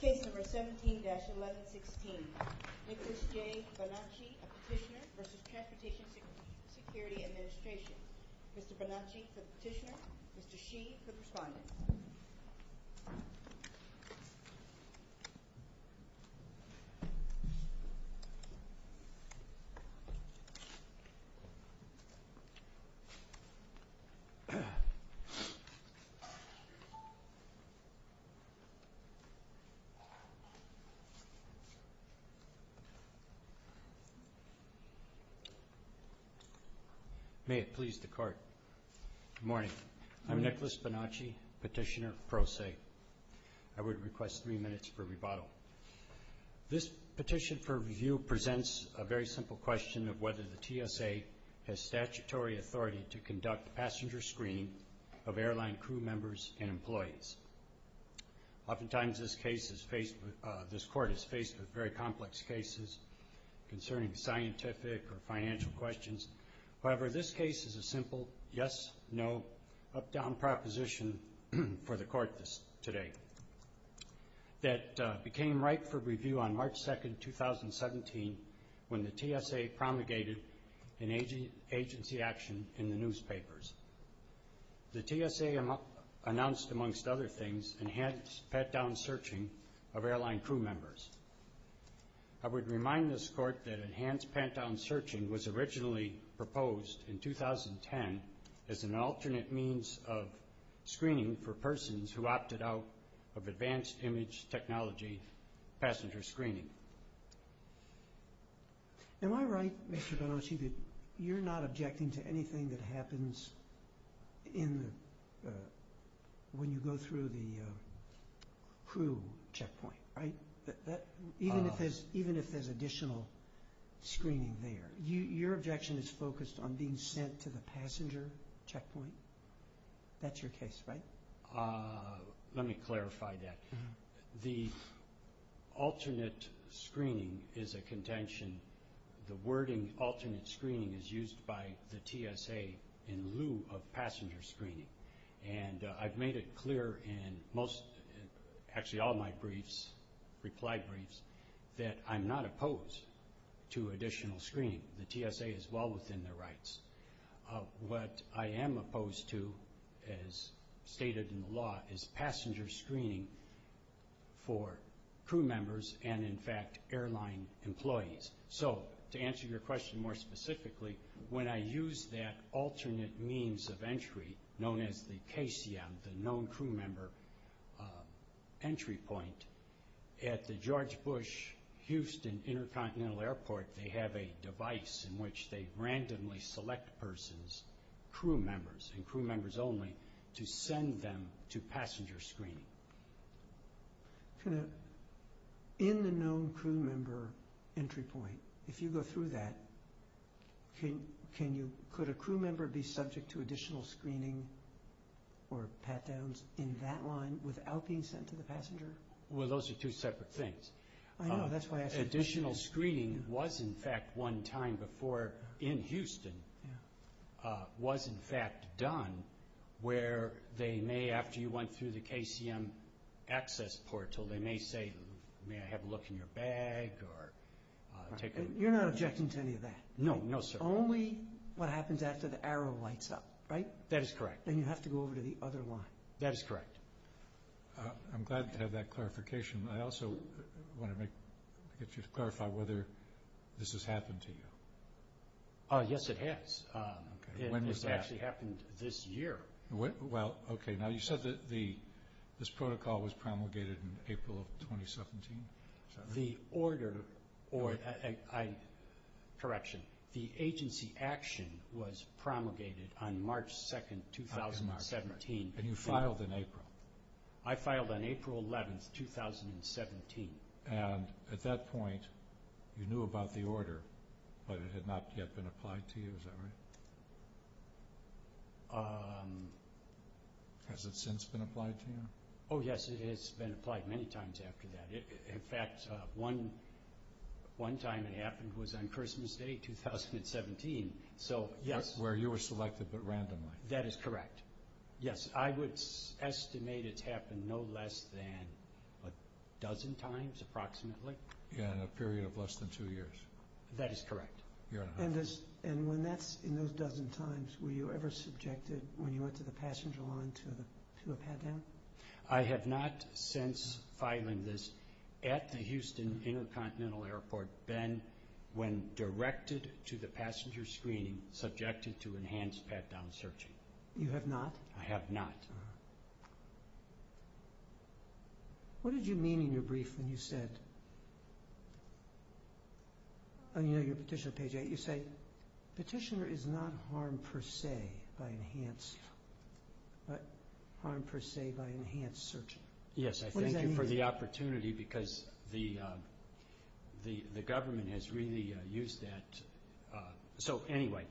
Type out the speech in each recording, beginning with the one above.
Case number 17-1116. Nicholas J. Bonacci, a petitioner versus Transportation Security Administration. Mr. Bonacci for the petitioner, Mr. Shee for the respondent. May it please the Court. Good morning. I'm Nicholas Bonacci, petitioner pro se. I would request three minutes for rebuttal. This petition for review presents a very simple question of whether the TSA has statutory authority to conduct passenger screening of airline crew members and employees. Oftentimes, this Court is faced with very complex cases concerning scientific or financial questions. However, this case is a simple yes, no, up-down proposition for the Court today that became ripe for review on March 2, 2017 when the TSA promulgated an agency action in the newspapers. The TSA announced, amongst other things, enhanced pat-down searching of airline crew members. I would remind this Court that enhanced pat-down searching was originally proposed in 2010 as an alternate means of screening for persons who opted out of advanced image technology passenger screening. Am I right, Mr. Bonacci, that you're not objecting to anything that happens when you go through the crew checkpoint, even if there's additional screening there? Your objection is focused on being sent to the passenger checkpoint? That's your case, right? Let me clarify that. The alternate screening is a contention. The wording alternate screening is used by the TSA in lieu of passenger screening. And I've made it clear in most, actually all my briefs, reply briefs, that I'm not opposed to additional screening. The TSA is well within their rights. What I am opposed to, as stated in the law, is passenger screening for crew members and, in fact, airline employees. To answer your question more specifically, when I use that alternate means of entry, known as the KCM, the known crew member entry point, at the George Bush Houston Intercontinental Airport, they have a device in which they randomly select persons, crew members and crew members only, to send them to passenger screening. In the known crew member entry point, if you go through that, could a crew member be subject to additional screening or pat-downs in that line without being sent to the passenger? Well, those are two separate things. Additional screening was, in fact, one time before, in Houston, was, in fact, done, where they may, after you went through the KCM access portal, they may say, may I have a look in your bag? You're not objecting to any of that? No, no, sir. Only what happens after the arrow lights up, right? That is correct. Then you have to go over to the other line. That is correct. I'm glad to have that clarification. I also want to get you to clarify whether this has happened to you. Yes, it has. When was that? It actually happened this year. Well, okay. Now, you said that this protocol was promulgated in April of 2017? The order, correction, the agency action was promulgated on March 2nd, 2017. And you filed in April? I filed on April 11th, 2017. And at that point, you knew about the order, but it had not yet been applied to you, is that right? Has it since been applied to you? Oh, yes, it has been applied many times after that. In fact, one time it happened was on Christmas Day, 2017. Where you were selected, but randomly? That is correct. Yes, I would estimate it's happened no less than a dozen times, approximately. In a period of less than two years? That is correct. Year and a half? And when that's in those dozen times, were you ever subjected, when you went to the passenger line, to a pat-down? I have not since filing this at the Houston Intercontinental Airport been, when directed to the passenger screening, subjected to enhanced pat-down searching. You have not? I have not. What did you mean in your brief when you said, on your petition on page 8, you say, petitioner is not harmed per se by enhanced, but harmed per se by enhanced searching. Yes, I thank you for the opportunity because the government has really used that. So, anyway,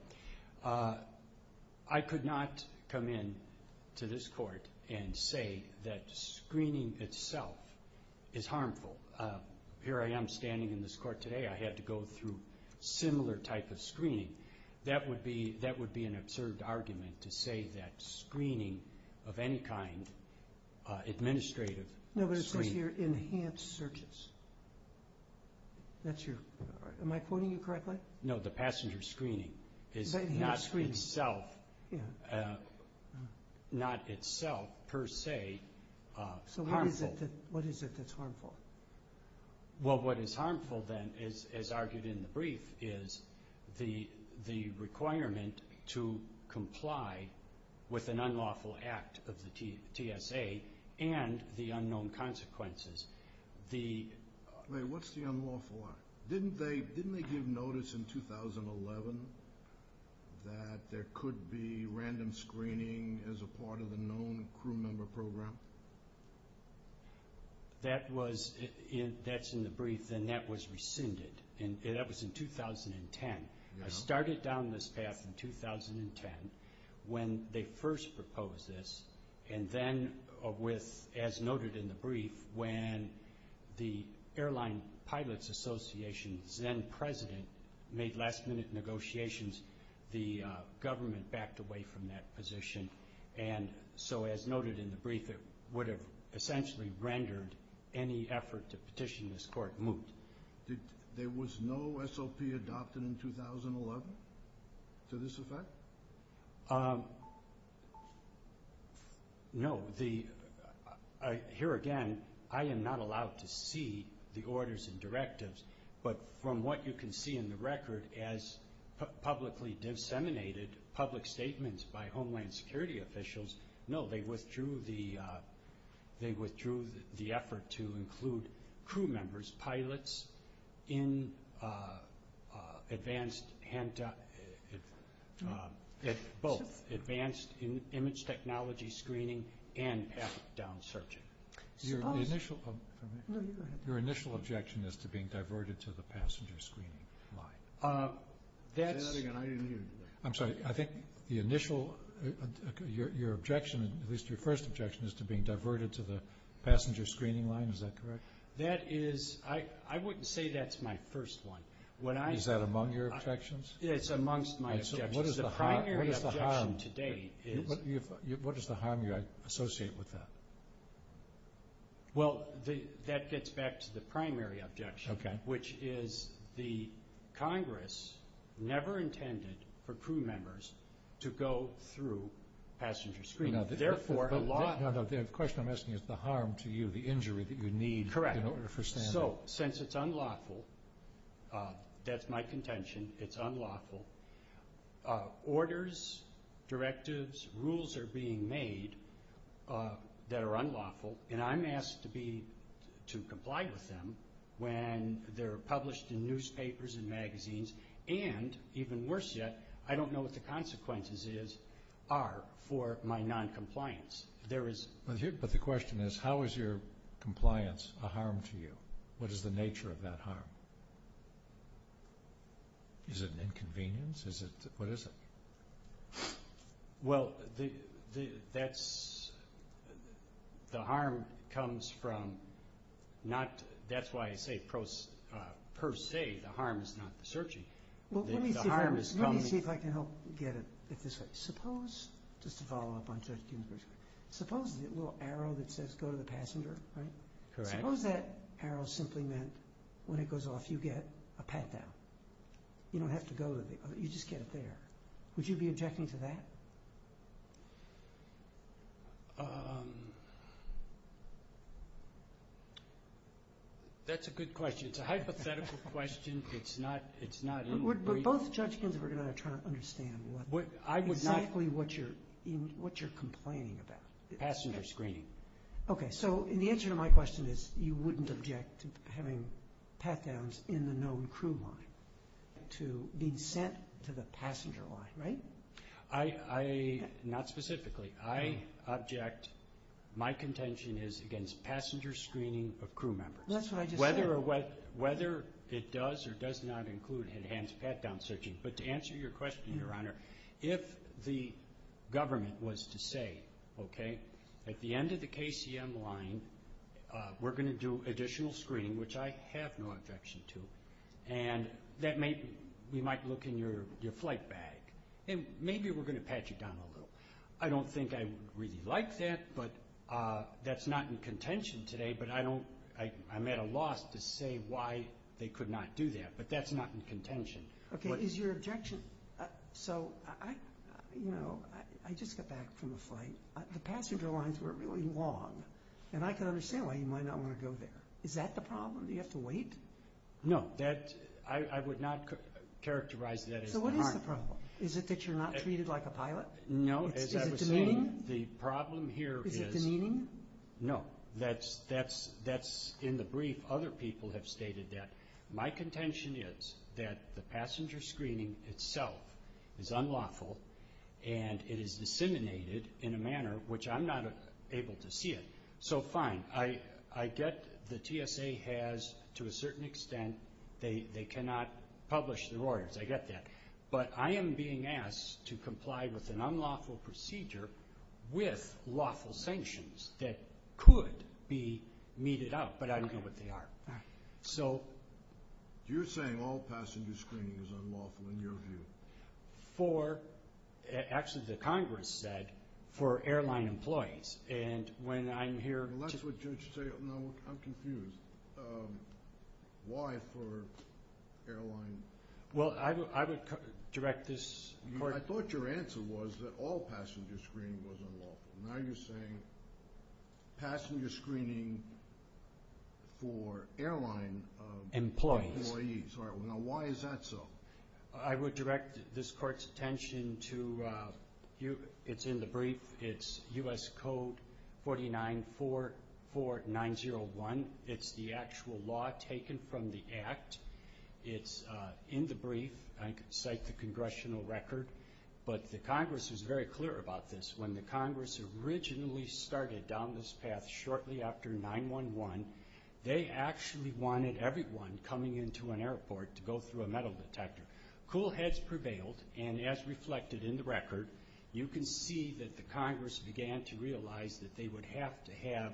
I could not come in to this court and say that screening itself is harmful. Here I am standing in this court today. I had to go through similar type of screening. That would be an absurd argument to say that screening of any kind, administrative screening. No, but it says here, enhanced searches. That's your, am I quoting you correctly? No, the passenger screening is not itself, not itself, per se, harmful. So what is it that's harmful? Well, what is harmful then, as argued in the brief, is the requirement to comply with an unlawful act of the TSA and the unknown consequences. What's the unlawful act? Didn't they give notice in 2011 that there could be random screening as a part of the known crew member program? That was, that's in the brief, and that was rescinded. That was in 2010. I started down this path in 2010 when they first proposed this, and then with, as noted in the brief, when the Airline Pilots Association, then president, made last-minute negotiations, the government backed away from that position. And so, as noted in the brief, it would have essentially rendered any effort to petition this court moot. There was no SOP adopted in 2011 to this effect? No. Here again, I am not allowed to see the orders and directives, but from what you can see in the record as publicly disseminated public statements by Homeland Security officials, no, they withdrew the effort to include crew members, pilots, in advanced, both, advanced image technology screening and path-down searching. Your initial objection is to being diverted to the passenger screening line. Say that again. I didn't hear you. I'm sorry. I think the initial, your objection, at least your first objection, is to being diverted to the passenger screening line. Is that correct? That is, I wouldn't say that's my first one. Is that among your objections? It's amongst my objections. What is the harm you associate with that? Well, that gets back to the primary objection, which is the Congress never intended for crew members to go through passenger screening. Now, the question I'm asking is the harm to you, the injury that you need in order for standing. Correct. So, since it's unlawful, that's my contention, it's unlawful. Orders, directives, rules are being made that are unlawful, and I'm asked to comply with them when they're published in newspapers and magazines. And, even worse yet, I don't know what the consequences are for my noncompliance. But the question is, how is your compliance a harm to you? What is the nature of that harm? Is it an inconvenience? What is it? Well, that's, the harm comes from not, that's why I say per se, the harm is not the searching. Well, let me see if I can help get it this way. Suppose, just to follow up on the question, suppose the little arrow that says go to the passenger, right? Correct. Suppose that arrow simply meant when it goes off, you get a pat-down. You don't have to go to the other, you just get it there. Would you be objecting to that? That's a good question. It's a hypothetical question. It's not, it's not. But both judge Ginsburg and I are trying to understand what, exactly what you're, what you're complaining about. Passenger screening. Okay, so the answer to my question is you wouldn't object to having pat-downs in the known crew line to be sent to the passenger line, right? I, I, not specifically, I object, my contention is against passenger screening of crew members. That's what I just said. Whether or what, whether it does or does not include enhanced pat-down searching. But to answer your question, Your Honor, if the government was to say, okay, at the end of the KCM line, we're going to do additional screening, which I have no objection to, and that may, we might look in your, your flight bag, and maybe we're going to pat you down a little. I don't think I would really like that, but that's not in contention today, but I don't, I, I'm at a loss to say why they could not do that. But that's not in contention. Okay, is your objection, so I, you know, I just got back from a flight. The passenger lines were really long, and I can understand why you might not want to go there. Is that the problem? Do you have to wait? No, that, I, I would not characterize that as the harm. So what is the problem? Is it that you're not treated like a pilot? No, as I was saying, the problem here is. Is it demeaning? No. That's, that's, that's in the brief. Other people have stated that. My contention is that the passenger screening itself is unlawful, and it is disseminated in a manner which I'm not able to see it. So fine, I, I get the TSA has, to a certain extent, they, they cannot publish their orders. I get that. But I am being asked to comply with an unlawful procedure with lawful sanctions that could be meted out. But I don't know what they are. All right. So. You're saying all passenger screening is unlawful, in your view. For, actually, the Congress said for airline employees. And when I'm here. Well, that's what you should say. No, I'm confused. Why for airline? Well, I would direct this. I thought your answer was that all passenger screening was unlawful. Now you're saying passenger screening for airline employees. All right. Now, why is that so? I would direct this court's attention to, it's in the brief. It's U.S. Code 4944901. It's the actual law taken from the act. It's in the brief. I can cite the congressional record. But the Congress was very clear about this. When the Congress originally started down this path shortly after 9-1-1, they actually wanted everyone coming into an airport to go through a metal detector. Cool heads prevailed. And as reflected in the record, you can see that the Congress began to realize that they would have to have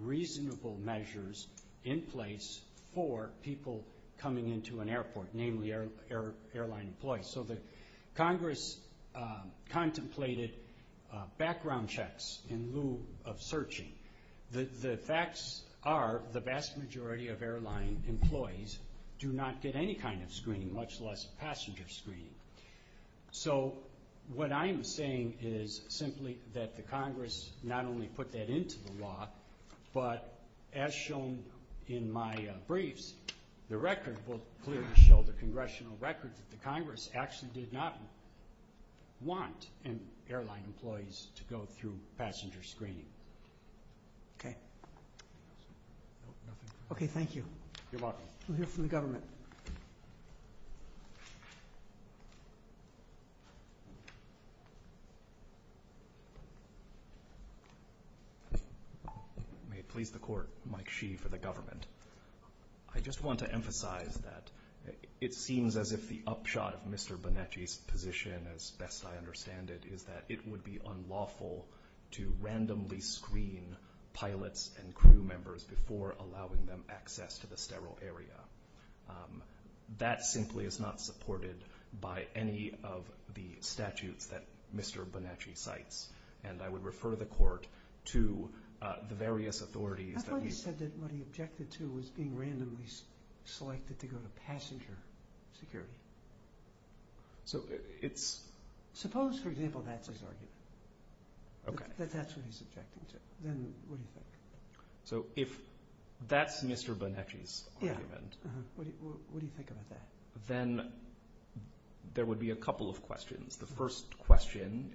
reasonable measures in place for people coming into an airport, namely airline employees. So the Congress contemplated background checks in lieu of searching. The facts are the vast majority of airline employees do not get any kind of screening, much less passenger screening. So what I'm saying is simply that the Congress not only put that into the law, but as shown in my briefs, the record will clearly show the congressional record that the Congress actually did not want airline employees to go through passenger screening. Okay. Okay, thank you. You're welcome. We'll hear from the government. May it please the Court, Mike Shee for the government. I just want to emphasize that it seems as if the upshot of Mr. Bonacci's position, as best I understand it, is that it would be unlawful to randomly screen pilots and crew members before allowing them access to the sterile area. That simply is not supported by any of the statutes that Mr. Bonacci cites, and I would refer the Court to the various authorities that we've... I thought you said that what he objected to was being randomly selected to go to passenger security. So it's... Suppose, for example, that's his argument. Okay. That's what he's objecting to. Then what do you think? So if that's Mr. Bonacci's argument... Yeah. What do you think about that? ...then there would be a couple of questions. The first question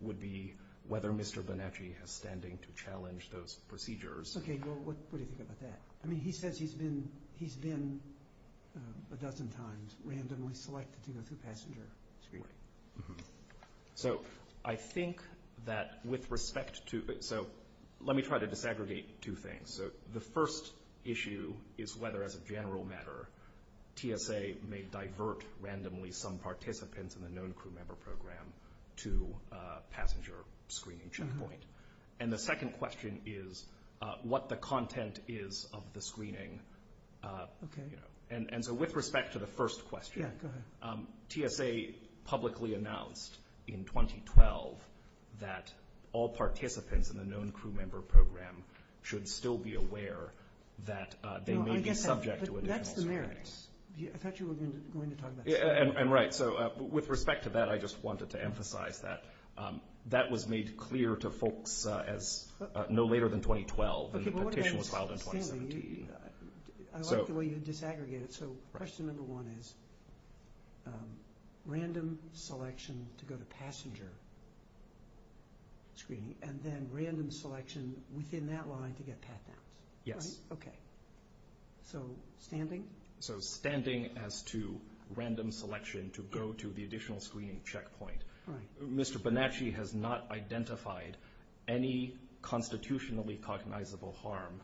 would be whether Mr. Bonacci has standing to challenge those procedures. Okay. Well, what do you think about that? I mean, he says he's been a dozen times randomly selected to go through passenger screening. So I think that with respect to... So let me try to disaggregate two things. So the first issue is whether, as a general matter, TSA may divert randomly some participants in the known crew member program to a passenger screening checkpoint. And the second question is what the content is of the screening. Okay. And so with respect to the first question... Yeah, go ahead. ...TSA publicly announced in 2012 that all participants in the known crew member program should still be aware that they may be subject to additional screenings. No, I guess that's the merits. I thought you were going to talk about that. And right. So with respect to that, I just wanted to emphasize that. That was made clear to folks no later than 2012, and the petition was filed in 2017. I like the way you disaggregate it. So question number one is random selection to go to passenger screening and then random selection within that line to get pat-downs. Yes. Okay. So standing? So standing as to random selection to go to the additional screening checkpoint. Mr. Bonacci has not identified any constitutionally cognizable harm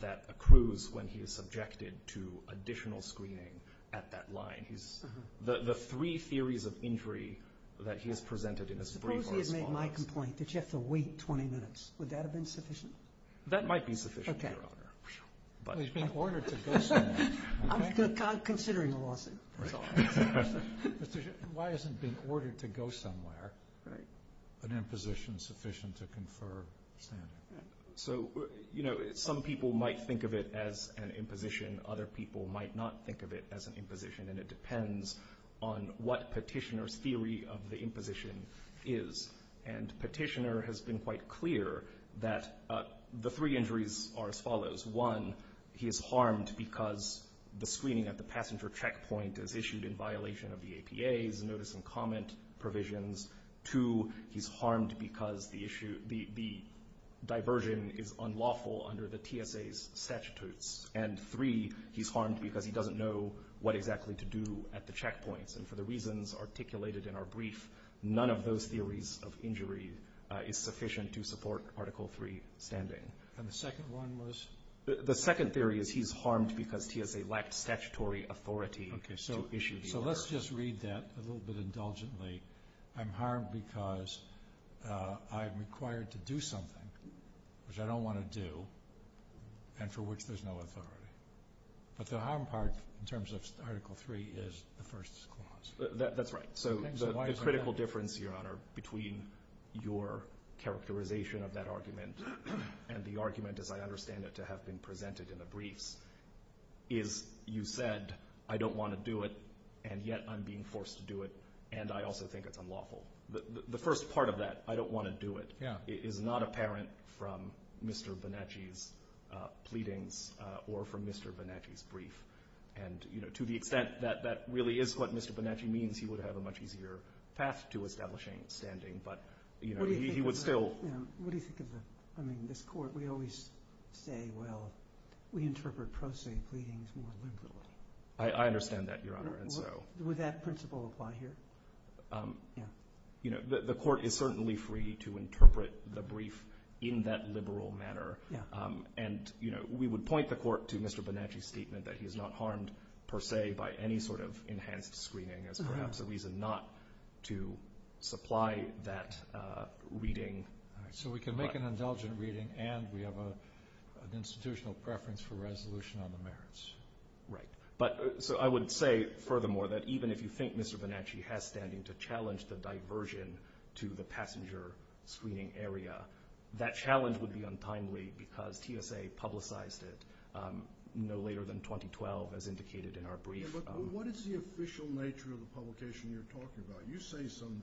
that accrues when he is subjected to additional screening at that line. The three theories of injury that he has presented in his brief are as follows. Suppose he has made my complaint that you have to wait 20 minutes. Would that have been sufficient? That might be sufficient, Your Honor. Okay. He's being ordered to go somewhere. I'm considering a lawsuit. That's all. Why isn't being ordered to go somewhere an imposition sufficient to confer standing? So, you know, some people might think of it as an imposition. Other people might not think of it as an imposition, and it depends on what petitioner's theory of the imposition is. And petitioner has been quite clear that the three injuries are as follows. One, he is harmed because the screening at the passenger checkpoint is issued in violation of the APA's notice and comment provisions. Two, he's harmed because the diversion is unlawful under the TSA's statutes. And three, he's harmed because he doesn't know what exactly to do at the checkpoints. And for the reasons articulated in our brief, none of those theories of injury is sufficient to support Article III standing. And the second one was? The second theory is he's harmed because TSA lacked statutory authority to issue the order. So let's just read that a little bit indulgently. I'm harmed because I'm required to do something which I don't want to do and for which there's no authority. But the harm part in terms of Article III is the first clause. That's right. So the critical difference, Your Honor, between your characterization of that argument and the argument as I understand it to have been presented in the briefs is you said, I don't want to do it, and yet I'm being forced to do it, and I also think it's unlawful. The first part of that, I don't want to do it, is not apparent from Mr. Bonacci's pleadings or from Mr. Bonacci's brief. And to the extent that that really is what Mr. Bonacci means, he would have a much easier path to establishing standing, but he would still – What do you think of the – I mean, this Court, we always say, we interpret pro se pleadings more liberally. I understand that, Your Honor. Would that principle apply here? The Court is certainly free to interpret the brief in that liberal manner, and we would point the Court to Mr. Bonacci's statement that he is not harmed per se by any sort of enhanced screening as perhaps a reason not to supply that reading. All right. So we can make an indulgent reading, and we have an institutional preference for resolution on the merits. Right. So I would say, furthermore, that even if you think Mr. Bonacci has standing to challenge the diversion to the passenger screening area, that challenge would be untimely because TSA publicized it no later than 2012, as indicated in our brief. Yeah, but what is the official nature of the publication you're talking about? You say some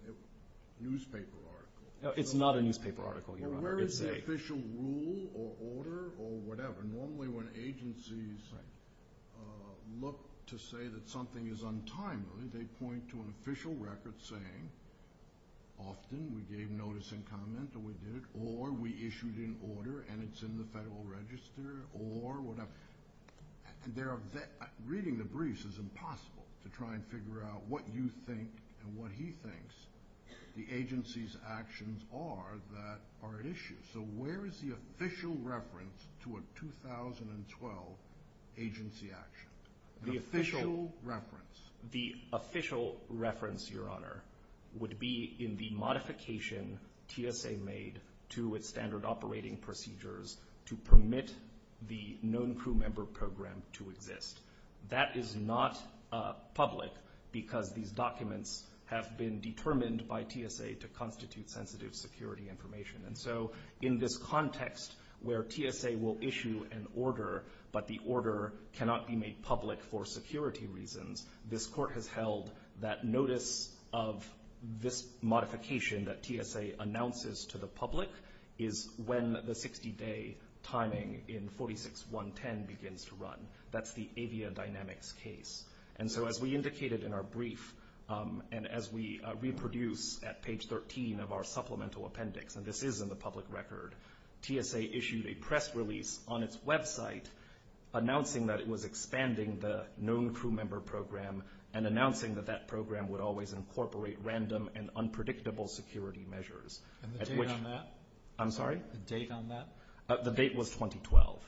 newspaper article. It's not a newspaper article, Your Honor. Well, where is the official rule or order or whatever? Normally when agencies look to say that something is untimely, they point to an official record saying, often we gave notice and comment, or we did it, or we issued an order and it's in the Federal Register, or whatever. Reading the briefs is impossible to try and figure out what you think and what he thinks the agency's actions are that are at issue. So where is the official reference to a 2012 agency action? The official reference. The official reference, Your Honor, would be in the modification TSA made to its standard operating procedures to permit the known crew member program to exist. That is not public because these documents have been determined by TSA to constitute sensitive security information. And so in this context where TSA will issue an order but the order cannot be made public for security reasons, this Court has held that notice of this modification that TSA announces to the public is when the 60-day timing in 46.110 begins to run. That's the Avia Dynamics case. And so as we indicated in our brief and as we reproduce at page 13 of our supplemental appendix, and this is in the public record, TSA issued a press release on its website announcing that it was expanding the known crew member program and announcing that that program would always incorporate random and unpredictable security measures. And the date on that? I'm sorry? The date on that? The date was 2012.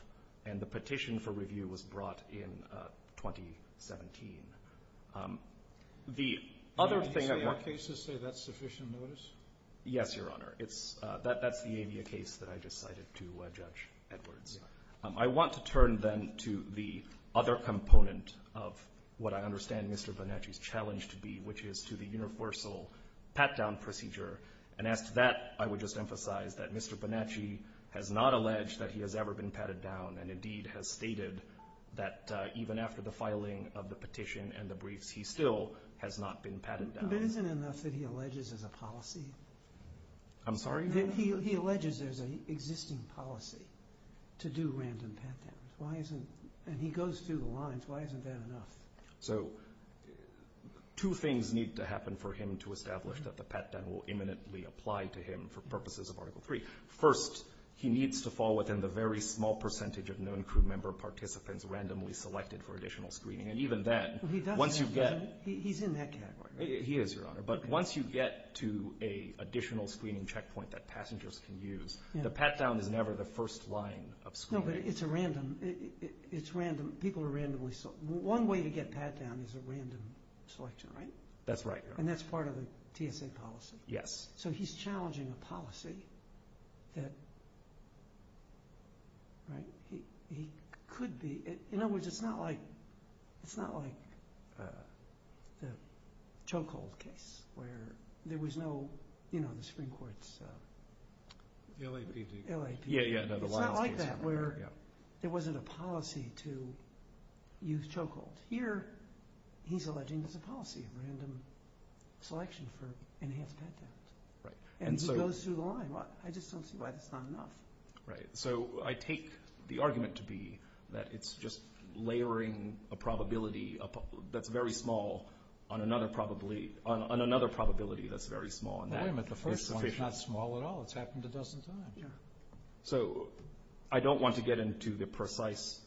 And the petition for review was brought in 2017. The other thing that we're going to do is to say that's sufficient notice? Yes, Your Honor. It's the Avia case that I just cited to Judge Edwards. I want to turn then to the other component of what I understand Mr. Bonacci's challenge to be, which is to the universal pat-down procedure. And as to that, I would just emphasize that Mr. Bonacci has not alleged that he has ever been patted down and indeed has stated that even after the filing of the petition and the briefs, he still has not been patted down. But isn't it enough that he alleges there's a policy? I'm sorry? He alleges there's an existing policy to do random pat-downs. And he goes through the lines. Why isn't that enough? So two things need to happen for him to establish that the pat-down will imminently apply to him for purposes of Article III. First, he needs to fall within the very small percentage of known crew member participants randomly selected for additional screening. And even then, once you get— He's in that category, right? He is, Your Honor. But once you get to an additional screening checkpoint that passengers can use, the pat-down is never the first line of screening. No, but it's random. People are randomly selected. One way to get pat-down is a random selection, right? That's right. And that's part of the TSA policy. Yes. So he's challenging a policy that he could be— in other words, it's not like the Chokehold case where there was no— you know, the Supreme Court's— LAPD. LAPD. It's not like that where there wasn't a policy to use Chokehold. Here, he's alleging there's a policy of random selection for enhanced pat-downs. Right. And he goes through the line. I just don't see why that's not enough. Right. So I take the argument to be that it's just layering a probability that's very small on another probability that's very small. Wait a minute. The first one's not small at all. It's happened a dozen times. Yeah. So I don't want to get into the precise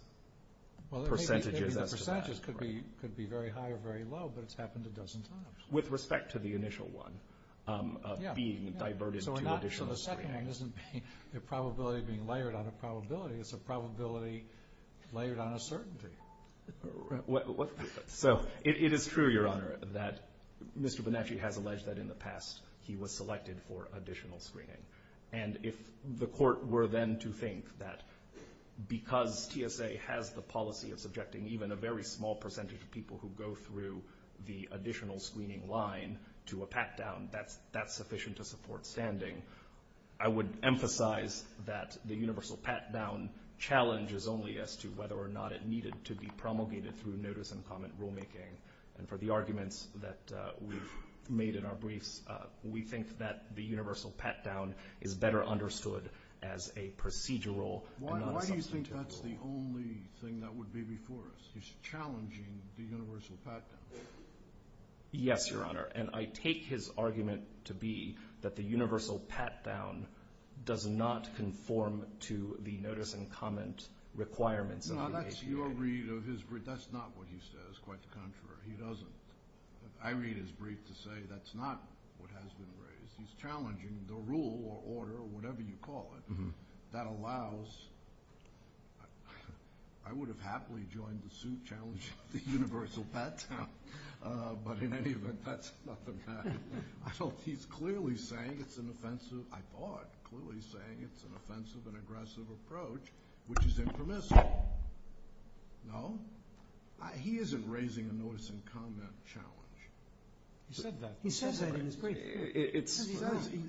percentages as to that. The percentages could be very high or very low, but it's happened a dozen times. With respect to the initial one of being diverted to additional screening. Yeah. So the second one isn't a probability being layered on a probability. It's a probability layered on a certainty. So it is true, Your Honor, that Mr. Bonacci has alleged that in the past he was selected for additional screening. And if the court were then to think that because TSA has the policy of subjecting even a very small percentage of people who go through the additional screening line to a pat-down, that's sufficient to support standing. I would emphasize that the universal pat-down challenges only as to whether or not it needed to be promulgated through notice and comment rulemaking. And for the arguments that we've made in our briefs, we think that the universal pat-down is better understood as a procedural and non-substantive rule. He's challenging the universal pat-down. Yes, Your Honor. And I take his argument to be that the universal pat-down does not conform to the notice and comment requirements. No, that's your read of his brief. That's not what he says. Quite the contrary. He doesn't. I read his brief to say that's not what has been raised. He's challenging the rule or order or whatever you call it that allows I would have happily joined the suit challenging the universal pat-down, but in any event, that's not the matter. He's clearly saying it's an offensive, I thought, clearly saying it's an offensive and aggressive approach, which is impermissible. No? He isn't raising a notice and comment challenge. He said that. He said that in his brief.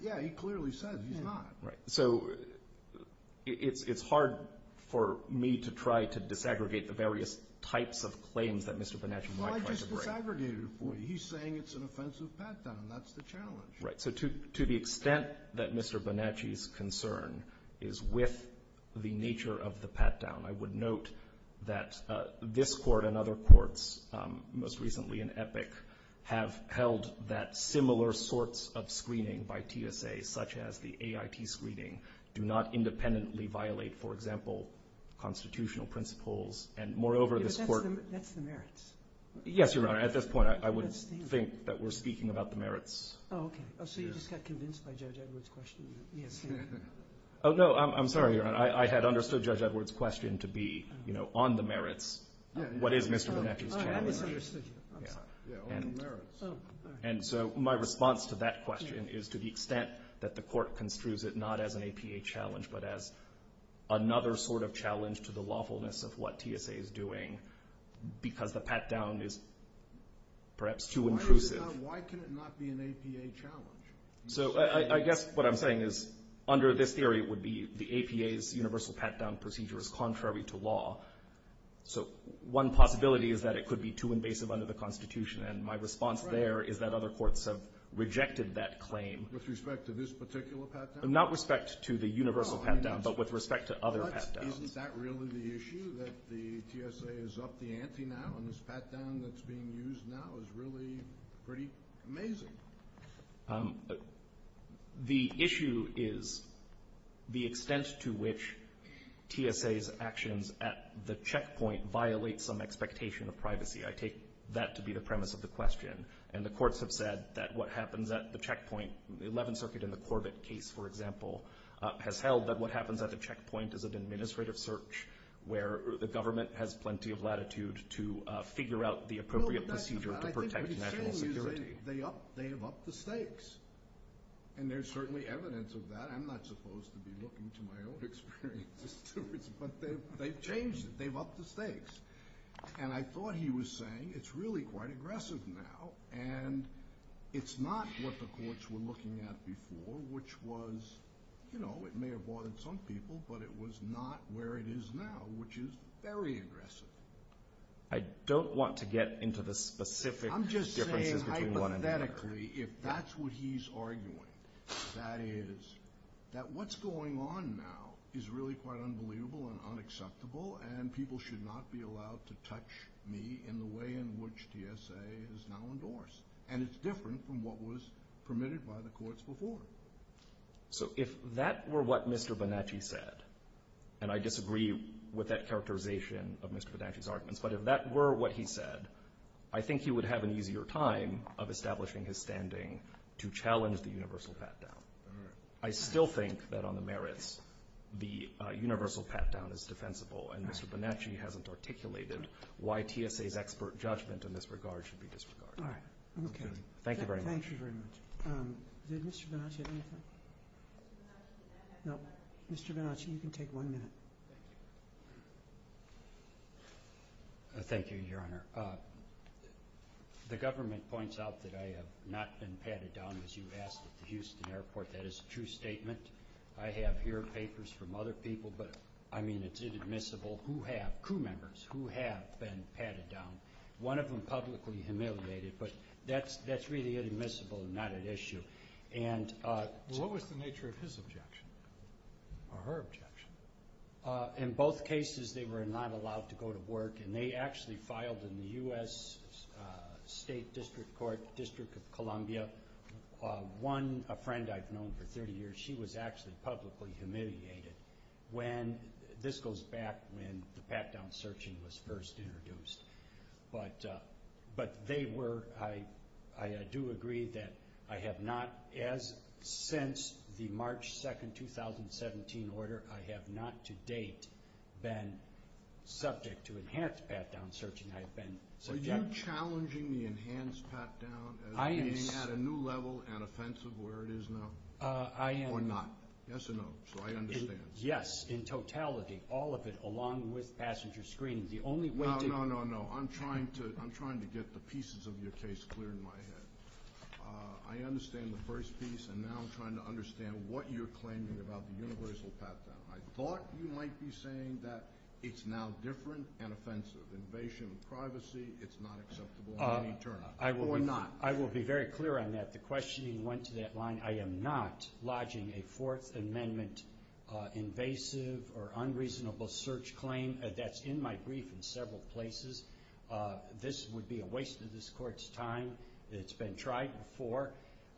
Yeah, he clearly said he's not. Right. So it's hard for me to try to disaggregate the various types of claims that Mr. Bonacci might try to break. Well, I just disaggregated it for you. He's saying it's an offensive pat-down. That's the challenge. Right. So to the extent that Mr. Bonacci's concern is with the nature of the pat-down, I would note that this Court and other courts, most recently in Epic, have held that similar sorts of screening by TSA, such as the AIT screening, do not independently violate, for example, constitutional principles. And moreover, this Court — But that's the merits. Yes, Your Honor. At this point, I would think that we're speaking about the merits. Oh, okay. So you just got convinced by Judge Edward's question? Yes. Oh, no. I'm sorry, Your Honor. I had understood Judge Edward's question to be, you know, on the merits, what is Mr. Bonacci's challenge. I misunderstood you. I'm sorry. Yeah, on the merits. And so my response to that question is, to the extent that the Court construes it not as an APA challenge, but as another sort of challenge to the lawfulness of what TSA is doing, because the pat-down is perhaps too intrusive. Why can it not be an APA challenge? So I guess what I'm saying is, under this theory, it would be the APA's universal pat-down procedure is contrary to law. So one possibility is that it could be too invasive under the Constitution. And my response there is that other courts have rejected that claim. With respect to this particular pat-down? Not respect to the universal pat-down, but with respect to other pat-downs. Isn't that really the issue, that the TSA is up the ante now, and this pat-down that's being used now is really pretty amazing? The issue is the extent to which TSA's actions at the checkpoint violate some expectation of privacy. I take that to be the premise of the question. And the courts have said that what happens at the checkpoint, the Eleventh Circuit in the Corbett case, for example, has held that what happens at the checkpoint is an administrative search, where the government has plenty of latitude to figure out the appropriate procedure to protect national security. They have upped the stakes. And there's certainly evidence of that. I'm not supposed to be looking to my own experiences, but they've changed it. They've upped the stakes. And I thought he was saying it's really quite aggressive now, and it's not what the courts were looking at before, which was, you know, it may have bothered some people, but it was not where it is now, which is very aggressive. I don't want to get into the specific differences between the two. But hypothetically, if that's what he's arguing, that is that what's going on now is really quite unbelievable and unacceptable, and people should not be allowed to touch me in the way in which TSA is now endorsed. And it's different from what was permitted by the courts before. So if that were what Mr. Bonacci said, and I disagree with that characterization of Mr. Bonacci's arguments, but if that were what he said, I think he would have an easier time of establishing his standing to challenge the universal pat-down. I still think that on the merits the universal pat-down is defensible, and Mr. Bonacci hasn't articulated why TSA's expert judgment in this regard should be disregarded. All right. Okay. Thank you very much. Thank you very much. Did Mr. Bonacci have anything? No. Mr. Bonacci, you can take one minute. Thank you. Thank you, Your Honor. The government points out that I have not been patted down, as you asked, at the Houston airport. That is a true statement. I have here papers from other people, but, I mean, it's inadmissible. Who have? Crew members. Who have been patted down? One of them publicly humiliated, but that's really inadmissible and not at issue. What was the nature of his objection or her objection? In both cases, they were not allowed to go to work, and they actually filed in the U.S. State District Court, District of Columbia. One, a friend I've known for 30 years, she was actually publicly humiliated. This goes back when the pat-down searching was first introduced. But they were, I do agree that I have not, as since the March 2, 2017 order, I have not to date been subject to enhanced pat-down searching. Are you challenging the enhanced pat-down as being at a new level and offensive where it is now? I am. Or not? Yes or no, so I understand. Yes, in totality, all of it, along with passenger screening. No, no, no. I'm trying to get the pieces of your case clear in my head. I understand the first piece, and now I'm trying to understand what you're claiming about the universal pat-down. I thought you might be saying that it's now different and offensive. Invasion of privacy, it's not acceptable in any term. Or not? I will be very clear on that. The questioning went to that line. I am not lodging a Fourth Amendment invasive or unreasonable search claim. That's in my brief in several places. This would be a waste of this Court's time. It's been tried before.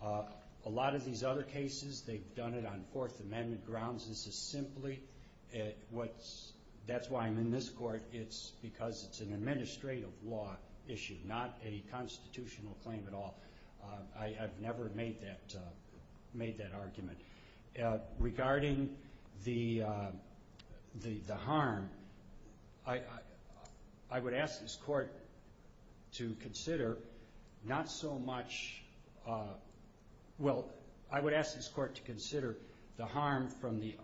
A lot of these other cases, they've done it on Fourth Amendment grounds. This is simply what's, that's why I'm in this Court. It's because it's an administrative law issue, not a constitutional claim at all. I have never made that argument. Regarding the harm, I would ask this Court to consider not so much, well, I would ask this Court to consider the harm from the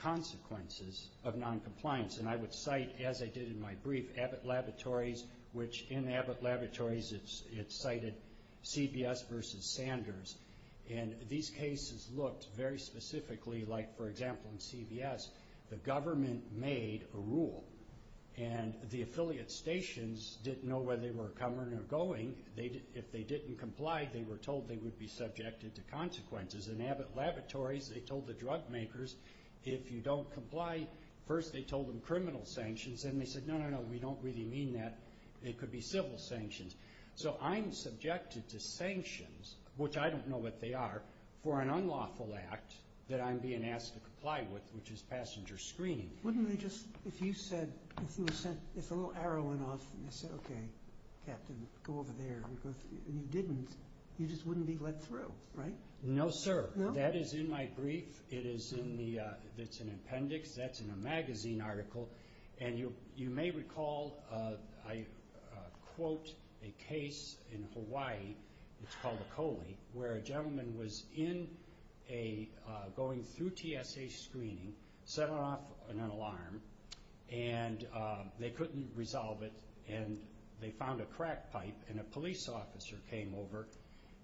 consequences of noncompliance. And I would cite, as I did in my brief, Abbott Laboratories, which in Abbott Laboratories it cited CBS versus Sanders. And these cases looked very specifically like, for example, in CBS, the government made a rule. And the affiliate stations didn't know whether they were coming or going. If they didn't comply, they were told they would be subjected to consequences. In Abbott Laboratories, they told the drug makers, if you don't comply, first they told them criminal sanctions. And they said, no, no, no, we don't really mean that. It could be civil sanctions. So I'm subjected to sanctions, which I don't know what they are, for an unlawful act that I'm being asked to comply with, which is passenger screening. Wouldn't they just, if you said, if a little arrow went off and they said, okay, Captain, go over there, and you didn't, you just wouldn't be let through, right? No, sir. That is in my brief. It is in the, it's an appendix. That's in a magazine article. And you may recall, I quote a case in Hawaii, it's called the Coley, where a gentleman was in a, going through TSA screening, set off an alarm. And they couldn't resolve it. And they found a crack pipe. And a police officer came over.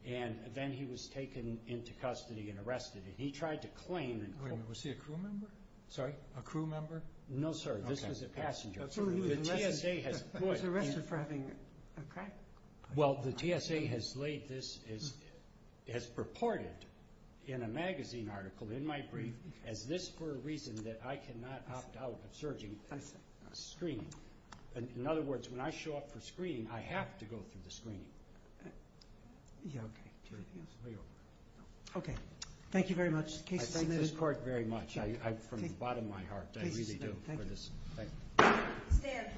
And then he was taken into custody and arrested. And he tried to claim. Wait a minute, was he a crew member? Sorry? A crew member? No, sir. This was a passenger. Absolutely. The TSA has put. He was arrested for having a crack pipe. Well, the TSA has laid this, has purported in a magazine article in my brief, as this for a reason that I cannot opt out of surging screening. In other words, when I show up for screening, I have to go through the screening. Yeah, okay. Anything else? No. Okay. Thank you very much. Case submitted. I thank this court very much. From the bottom of my heart, I really do. Case submitted. Thank you. Stay in place.